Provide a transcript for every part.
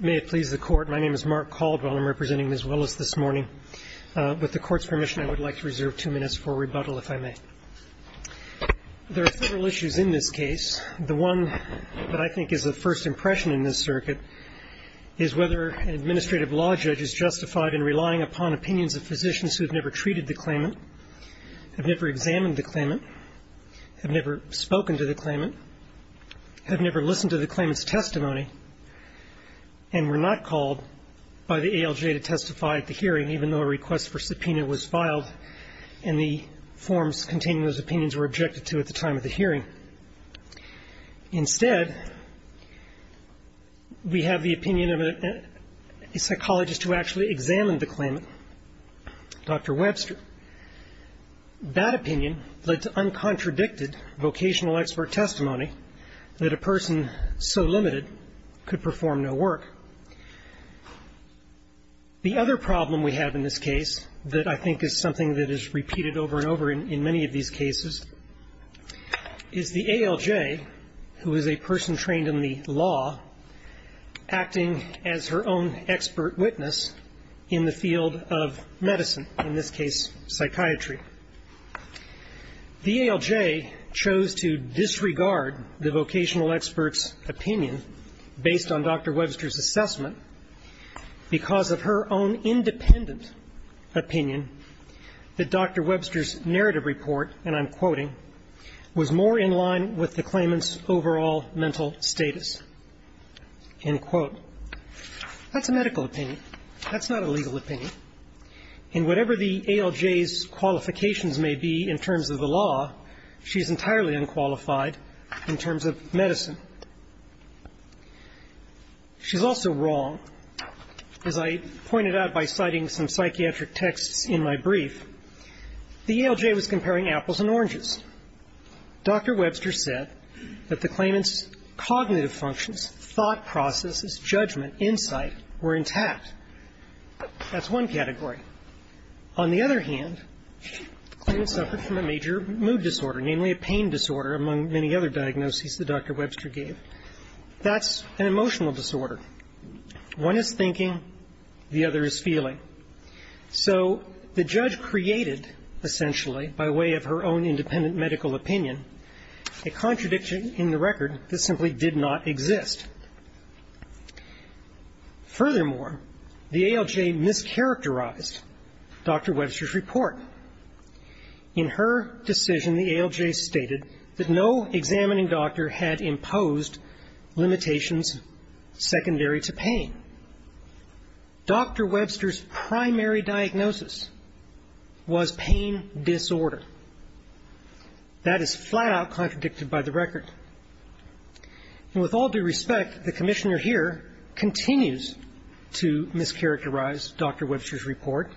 May it please the Court, my name is Mark Caldwell. I'm representing Ms. Willis this morning. With the Court's permission, I would like to reserve two minutes for rebuttal, if I may. There are several issues in this case. The one that I think is of first impression in this circuit is whether an administrative law judge is justified in relying upon opinions of physicians who have never treated the claimant, have never examined the claimant, have never spoken to the claimant, have never listened to the claimant's testimony, and were not called by the ALJ to testify at the hearing, even though a request for subpoena was filed and the forms containing those opinions were objected to at the time of the hearing. Instead, we have the opinion of a psychologist who actually examined the claimant, Dr. Webster. That opinion led to uncontradicted vocational expert testimony that a person so limited could perform no work. The other problem we have in this case that I think is something that is repeated over and over in many of these cases is the ALJ, who is a person trained in the law, acting as her own expert witness in the field of medicine, in this case psychiatry. The ALJ chose to disregard the vocational expert's opinion based on Dr. Webster's assessment because of her own independent opinion that Dr. Webster's narrative report, and I'm quoting, was more in line with the claimant's overall mental status, end quote. That's a medical opinion. That's not a legal opinion. And whatever the ALJ's qualifications may be in terms of the law, she's entirely unqualified in terms of medicine. She's also wrong. As I pointed out by citing some psychiatric texts in my brief, the ALJ was comparing apples and oranges. Dr. Webster said that the claimant's cognitive functions, thought processes, judgment, insight were intact. That's one category. On the other hand, the claimant suffered from a major mood disorder, namely a pain disorder, among many other diagnoses that Dr. Webster gave. That's an emotional disorder. One is thinking. The other is feeling. So the judge created, essentially, by way of her own independent medical opinion, a contradiction in the record that simply did not exist. Furthermore, the ALJ mischaracterized Dr. Webster's report. In her decision, the ALJ stated that no examining doctor had imposed limitations secondary to pain. Dr. Webster's primary diagnosis was pain disorder. That is flat-out contradicted by the record. And with all due respect, the commissioner here continues to mischaracterize Dr. Webster's report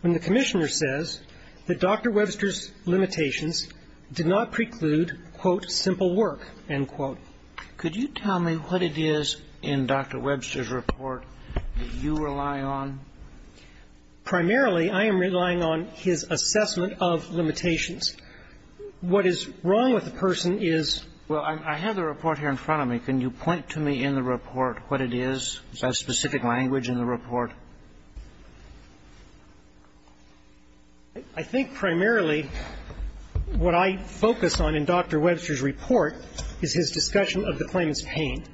when the commissioner says that Dr. Webster's limitations did not preclude, quote, simple work, end quote. Could you tell me what it is in Dr. Webster's report that you rely on? Primarily, I am relying on his assessment of limitations. What is wrong with the person is — Well, I have the report here in front of me. Can you point to me in the report what it is? Is there a specific language in the report? I think primarily what I focus on in Dr. Webster's report is his discussion of the claimant's pain.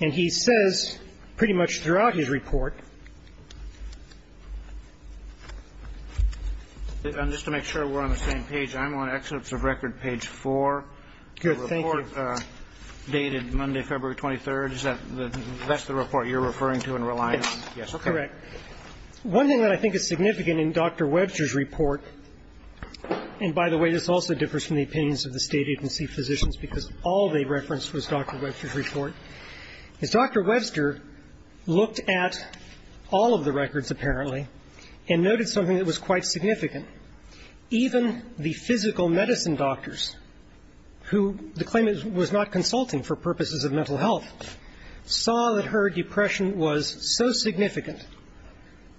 And he says pretty much throughout his report — Just to make sure we're on the same page, I'm on Excerpts of Record, page 4. Good. Thank you. The report dated Monday, February 23rd. Is that the — that's the report you're referring to and relying on? Yes. Okay. Correct. One thing that I think is significant in Dr. Webster's report — and by the way, this also differs from the opinions of the State agency physicians because all they referenced was Dr. Webster's report — is Dr. Webster looked at all of the records, apparently, and noted something that was quite significant. Even the physical medicine doctors who the claimant was not consulting for purposes of mental health saw that her depression was so significant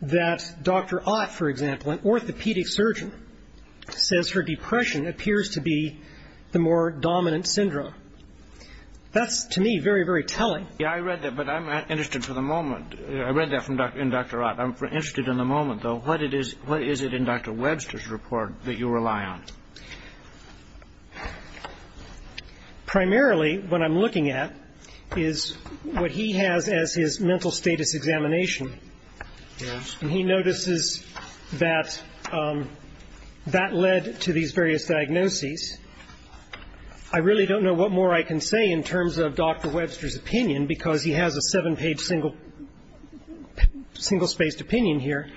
that Dr. Ott, for example, an orthopedic surgeon, says her depression appears to be the more dominant syndrome. That's, to me, very, very telling. Yeah, I read that, but I'm not interested for the moment. I read that in Dr. Ott. I'm interested in the moment, though. What is it in Dr. Webster's report that you rely on? Primarily, what I'm looking at is what he has as his mental status examination. Yes. And he notices that that led to these various diagnoses. I really don't know what more I can say in terms of Dr. Webster's opinion because he has a seven-page, single-spaced opinion here.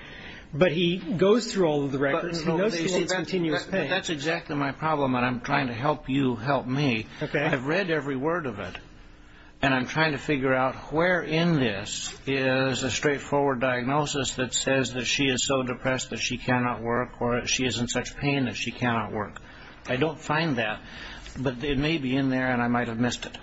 But he goes through all of the records. But that's exactly my problem, and I'm trying to help you help me. I've read every word of it, and I'm trying to figure out where in this is a straightforward diagnosis that says that she is so depressed that she cannot work or she is in such pain that she cannot work. I don't find that, but it may be in there, and I might have missed it.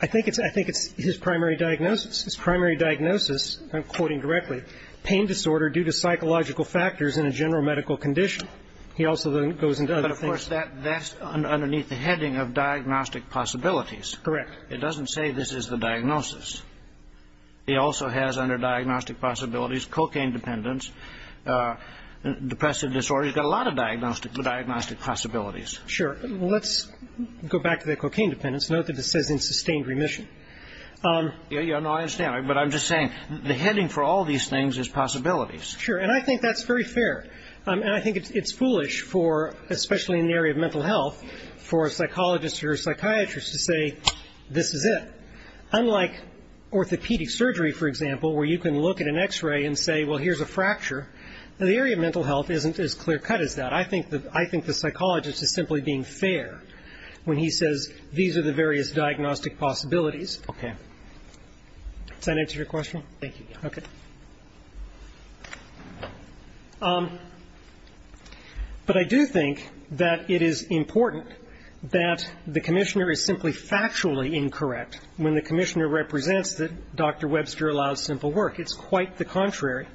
I think it's his primary diagnosis. His primary diagnosis, I'm quoting directly, pain disorder due to psychological factors in a general medical condition. He also goes into other things. But, of course, that's underneath the heading of diagnostic possibilities. Correct. It doesn't say this is the diagnosis. He also has under diagnostic possibilities cocaine dependence, depressive disorder. He's got a lot of diagnostic possibilities. Sure. Let's go back to the cocaine dependence. Note that it says in sustained remission. Yeah, no, I understand. But I'm just saying the heading for all these things is possibilities. Sure, and I think that's very fair. And I think it's foolish for, especially in the area of mental health, for a psychologist or a psychiatrist to say this is it. Unlike orthopedic surgery, for example, where you can look at an X-ray and say, well, here's a fracture, the area of mental health isn't as clear cut as that. I think the psychologist is simply being fair when he says these are the various diagnostic possibilities. Okay. Does that answer your question? Thank you. Okay. But I do think that it is important that the commissioner is simply factually incorrect when the commissioner represents that Dr. Webster allows simple work. It's quite the contrary.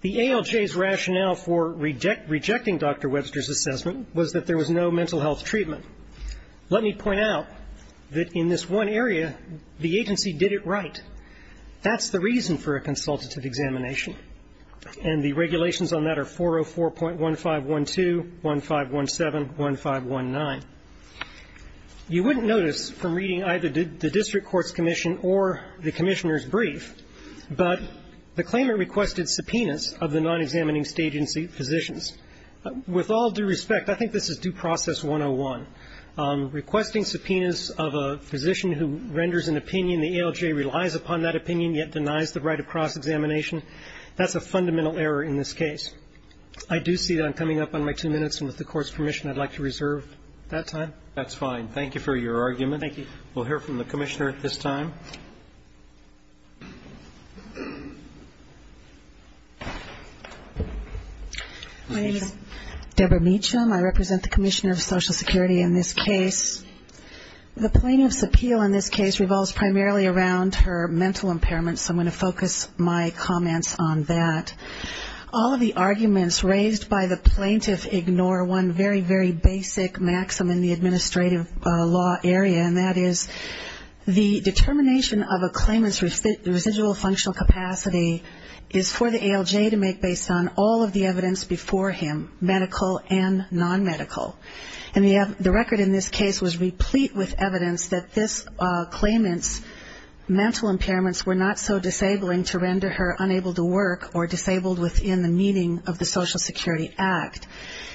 The ALJ's rationale for rejecting Dr. Webster's assessment was that there was no mental health treatment. Let me point out that in this one area, the agency did it right. That's the reason for a consultative examination. And the regulations on that are 404.1512, 1517, 1519. You wouldn't notice from reading either the district court's commission or the commissioner's brief, but the claimant requested subpoenas of the non-examining state agency physicians. With all due respect, I think this is due process 101. Requesting subpoenas of a physician who renders an opinion, the ALJ relies upon that opinion, yet denies the right of cross-examination, that's a fundamental error in this case. I do see that I'm coming up on my two minutes, and with the court's permission, I'd like to reserve that time. That's fine. Thank you for your argument. Thank you. We'll hear from the commissioner at this time. My name is Deborah Meacham. I represent the Commissioner of Social Security in this case. The plaintiff's appeal in this case revolves primarily around her mental impairment, so I'm going to focus my comments on that. All of the arguments raised by the plaintiff ignore one very, very basic maxim in the administrative law area, and that is the determination of a claimant's residual functional capacity is for the ALJ to make based on all of the evidence before him, medical and non-medical. And the record in this case was replete with evidence that this claimant's mental impairments were not so disabling to render her unable to work or disabled within the meaning of the Social Security Act.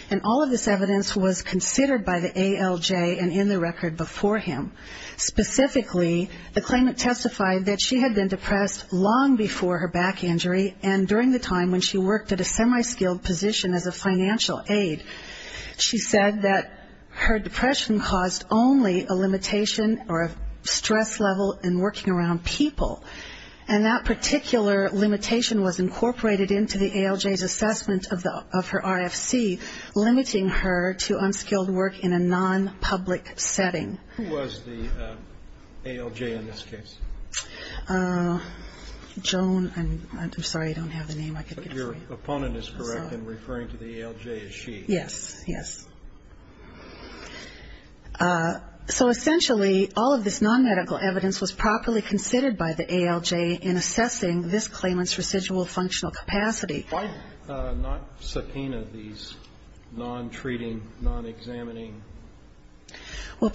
And all of this evidence was considered by the ALJ and in the record before him. Specifically, the claimant testified that she had been depressed long before her back injury, and during the time when she worked at a semi-skilled position as a financial aid, she said that her depression caused only a limitation or a stress level in working around people. And that particular limitation was incorporated into the ALJ's assessment of her RFC, limiting her to unskilled work in a non-public setting. Who was the ALJ in this case? Joan, I'm sorry, I don't have the name. Your opponent is correct in referring to the ALJ as she. Yes, yes. So essentially, all of this non-medical evidence was properly considered by the ALJ in assessing this claimant's residual functional capacity. Why not subpoena these non-treating, non-examining? Well,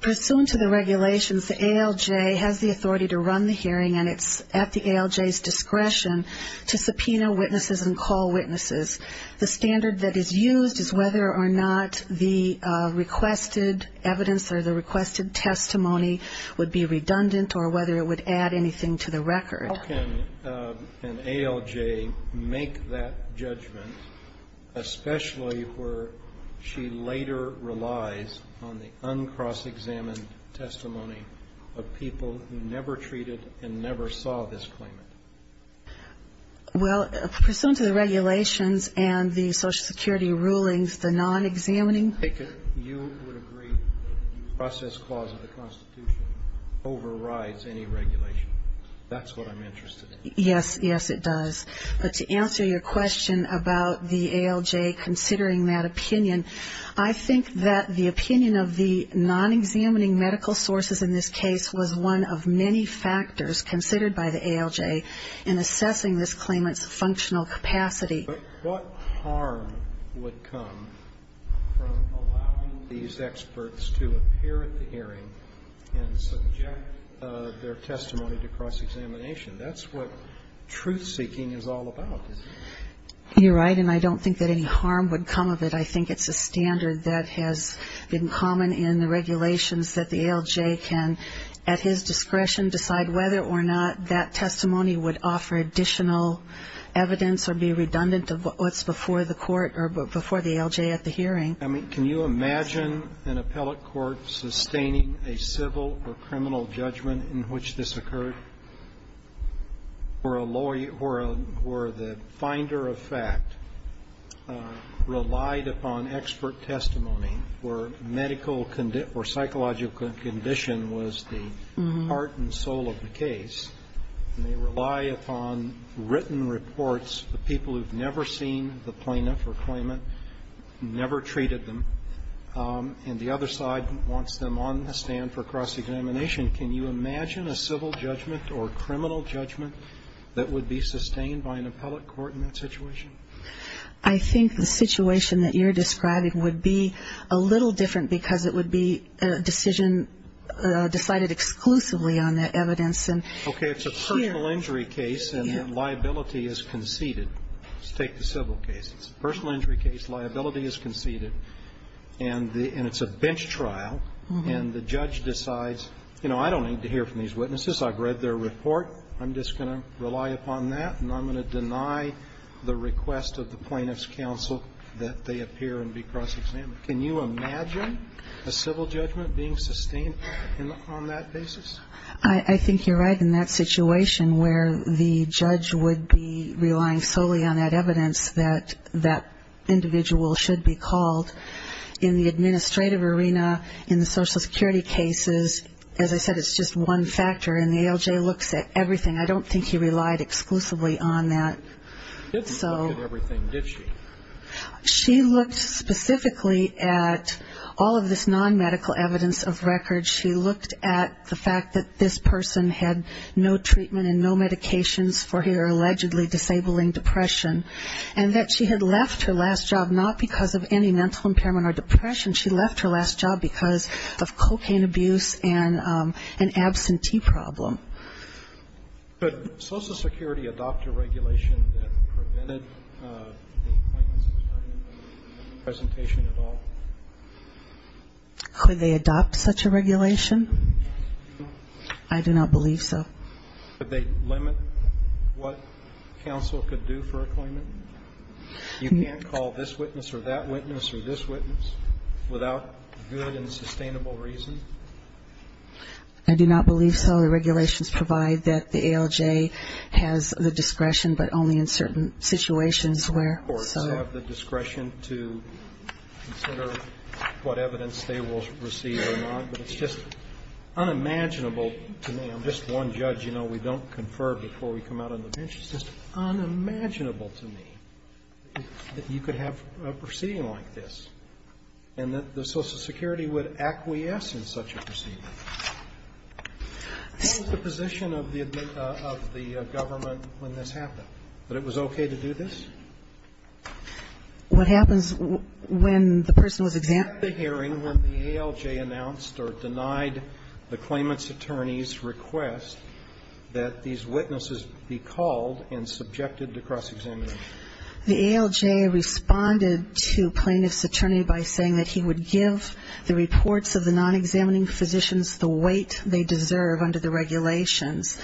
pursuant to the regulations, the ALJ has the authority to run the hearing, and it's at the ALJ's discretion to subpoena witnesses and call witnesses. The standard that is used is whether or not the requested evidence or the requested testimony would be redundant or whether it would add anything to the record. How can an ALJ make that judgment, especially where she later relies on the uncross-examined testimony of people who never treated and never saw this claimant? Well, pursuant to the regulations and the Social Security rulings, the non-examining. You would agree that the process clause of the Constitution overrides any regulation. That's what I'm interested in. Yes, yes, it does. But to answer your question about the ALJ considering that opinion, I think that the opinion of the non-examining medical sources in this case was one of many factors considered by the ALJ in assessing this claimant's functional capacity. But what harm would come from allowing these experts to appear at the hearing and subject their testimony to cross-examination? That's what truth-seeking is all about, isn't it? You're right, and I don't think that any harm would come of it. I think it's a standard that has been common in the regulations that the ALJ can, at his discretion, decide whether or not that testimony would offer additional evidence or be redundant to what's before the court or before the ALJ at the hearing. Can you imagine an appellate court sustaining a civil or criminal judgment in which this occurred? Where a lawyer, where the finder of fact relied upon expert testimony, where medical or psychological condition was the heart and soul of the case, and they rely upon written reports of people who have never seen the plaintiff or claimant, never treated them, and the other side wants them on the stand for cross-examination. Can you imagine a civil judgment or criminal judgment that would be sustained by an appellate court in that situation? I think the situation that you're describing would be a little different because it would be a decision decided exclusively on the evidence. Okay, it's a personal injury case and liability is conceded. Let's take the civil case. It's a personal injury case, liability is conceded, and it's a bench trial, and the judge decides, you know, I don't need to hear from these witnesses. I've read their report. I'm just going to rely upon that, and I'm going to deny the request of the plaintiff's counsel that they appear and be cross-examined. Can you imagine a civil judgment being sustained on that basis? I think you're right in that situation where the judge would be relying solely on that evidence that that individual should be called. In the administrative arena, in the Social Security cases, as I said, it's just one factor, and the ALJ looks at everything. I don't think he relied exclusively on that. He didn't look at everything, did she? She looked specifically at all of this non-medical evidence of records. She looked at the fact that this person had no treatment and no medications for her allegedly disabling depression, and that she had left her last job not because of any mental impairment or depression. She left her last job because of cocaine abuse and an absentee problem. Could Social Security adopt a regulation that prevented the plaintiff's attorney from making a presentation at all? Could they adopt such a regulation? I do not believe so. Could they limit what counsel could do for a claimant? You can't call this witness or that witness or this witness without good and sustainable reason? I do not believe so. The regulations provide that the ALJ has the discretion, but only in certain situations where so. They also have the discretion to consider what evidence they will receive or not, but it's just unimaginable to me. I'm just one judge. You know, we don't confer before we come out on the bench. It's just unimaginable to me that you could have a proceeding like this and that the Social Security would acquiesce in such a proceeding. What was the position of the government when this happened? That it was okay to do this? What happens when the person was examined? At the hearing when the ALJ announced or denied the claimant's attorney's request that these witnesses be called and subjected to cross-examination. The ALJ responded to plaintiff's attorney by saying that he would give the reports of the non-examining physicians the weight they deserve under the regulations.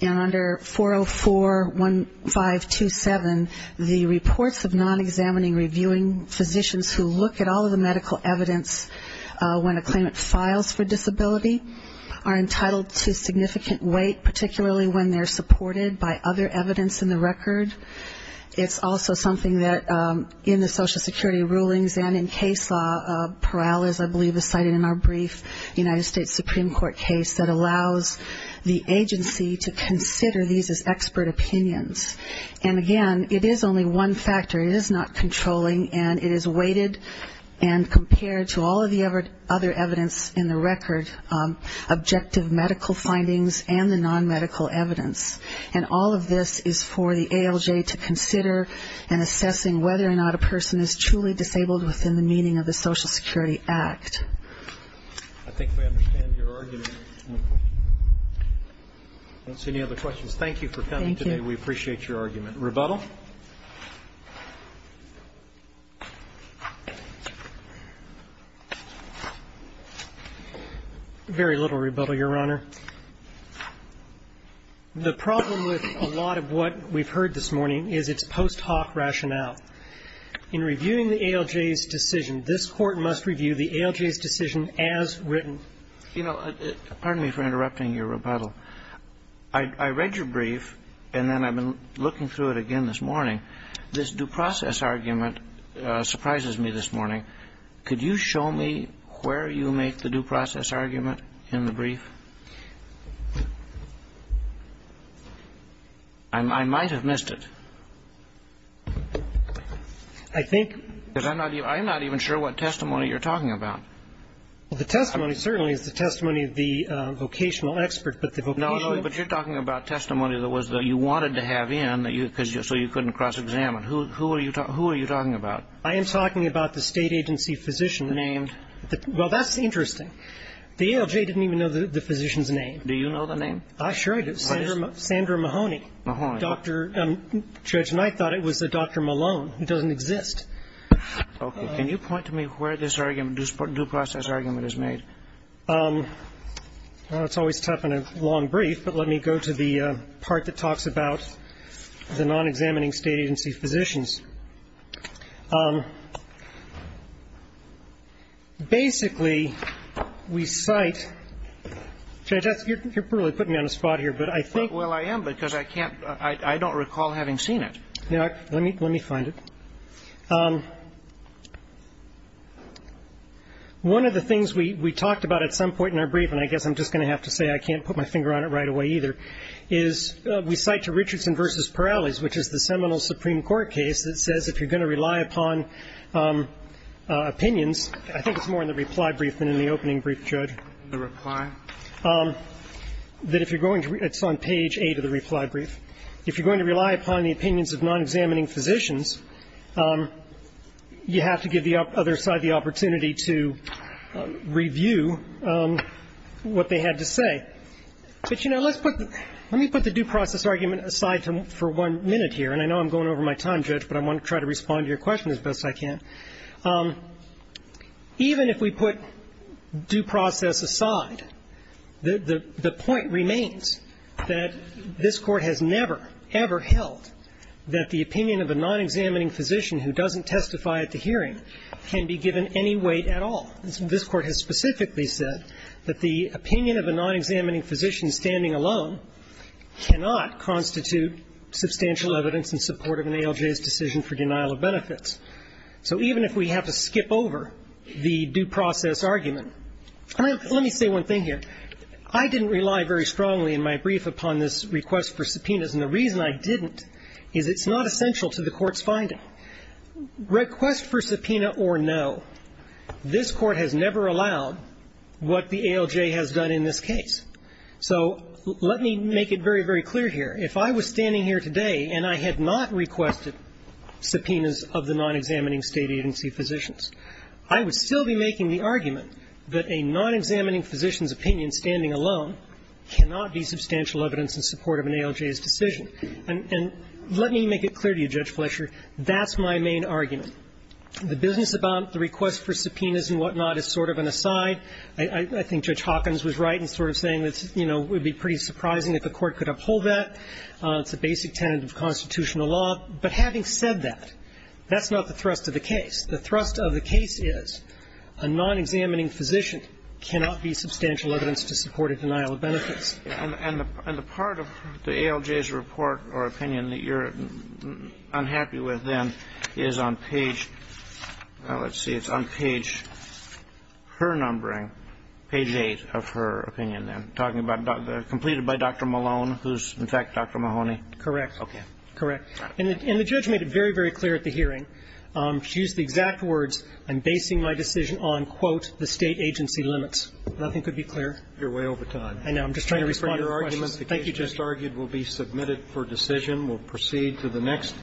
And under 404.1527, the reports of non-examining reviewing physicians who look at all of the medical evidence when a claimant files for disability are entitled to significant weight, particularly when they're supported by other evidence in the record. It's also something that in the Social Security rulings and in case law, Peral is, I believe, cited in our brief United States Supreme Court case, that allows the agency to consider these as expert opinions. And again, it is only one factor. It is not controlling, and it is weighted and compared to all of the other evidence in the record, objective medical findings and the non-medical evidence. And all of this is for the ALJ to consider in assessing whether or not a person is truly disabled within the meaning of the Social Security Act. I think we understand your argument. I don't see any other questions. Thank you for coming today. Thank you. We appreciate your argument. Rebuttal? Very little rebuttal, Your Honor. The problem with a lot of what we've heard this morning is its post hoc rationale. In reviewing the ALJ's decision, this Court must review the ALJ's decision as written. You know, pardon me for interrupting your rebuttal. I read your brief, and then I've been looking through it again this morning. This due process argument surprises me this morning. Could you show me where you make the due process argument in the brief? I might have missed it. I think. Because I'm not even sure what testimony you're talking about. Well, the testimony certainly is the testimony of the vocational expert, but the vocational. No, no, but you're talking about testimony that you wanted to have in so you couldn't cross-examine. Who are you talking about? I am talking about the state agency physician. Named. Well, that's interesting. The ALJ didn't even know the physician's name. Do you know the name? Sure, I do. Sandra Mahoney. Mahoney. Judge Knight thought it was Dr. Malone. It doesn't exist. Okay. Can you point to me where this argument, this due process argument is made? Well, it's always tough in a long brief, but let me go to the part that talks about the non-examining state agency physicians. Basically, we cite, Judge, you're really putting me on the spot here, but I think. Well, I am, because I can't, I don't recall having seen it. Let me find it. One of the things we talked about at some point in our brief, and I guess I'm just going to have to say I can't put my finger on it right away either, is we cite to Richardson v. Perales, which is the seminal Supreme Court case that says if you're going to rely upon opinions, I think it's more in the reply brief than in the opening brief, Judge. The reply? That if you're going to, it's on page 8 of the reply brief. If you're going to rely upon the opinions of non-examining physicians, you have to give the other side the opportunity to review what they had to say. But, you know, let's put, let me put the due process argument aside for one minute here, and I know I'm going over my time, Judge, but I want to try to respond to your question as best I can. Even if we put due process aside, the point remains that this Court has never, ever held that the opinion of a non-examining physician who doesn't testify at the hearing can be given any weight at all. This Court has specifically said that the opinion of a non-examining physician standing alone cannot constitute substantial evidence in support of an ALJ's decision for denial of benefits. So even if we have to skip over the due process argument, let me say one thing here. I didn't rely very strongly in my brief upon this request for subpoenas, and the reason I didn't is it's not essential to the Court's finding. Now, request for subpoena or no, this Court has never allowed what the ALJ has done in this case. So let me make it very, very clear here. If I was standing here today and I had not requested subpoenas of the non-examining State agency physicians, I would still be making the argument that a non-examining physician's opinion standing alone cannot be substantial evidence in support of an ALJ's decision. And let me make it clear to you, Judge Fletcher, that's my main argument. The business about the request for subpoenas and whatnot is sort of an aside. I think Judge Hawkins was right in sort of saying that, you know, it would be pretty surprising if the Court could uphold that. It's a basic tenet of constitutional law. But having said that, that's not the thrust of the case. The thrust of the case is a non-examining physician cannot be substantial evidence to support a denial of benefits. And the part of the ALJ's report or opinion that you're unhappy with then is on page – well, let's see. It's on page – her numbering, page 8 of her opinion then, talking about the – completed by Dr. Malone, who's in fact Dr. Mahoney. Correct. Okay. Correct. And the judge made it very, very clear at the hearing. She used the exact words, I'm basing my decision on, quote, the State agency limits. Nothing could be clearer. You're way over time. I know. I'm just trying to respond to your questions. Thank you for your arguments. The case just argued will be submitted for decision. We'll proceed to the next.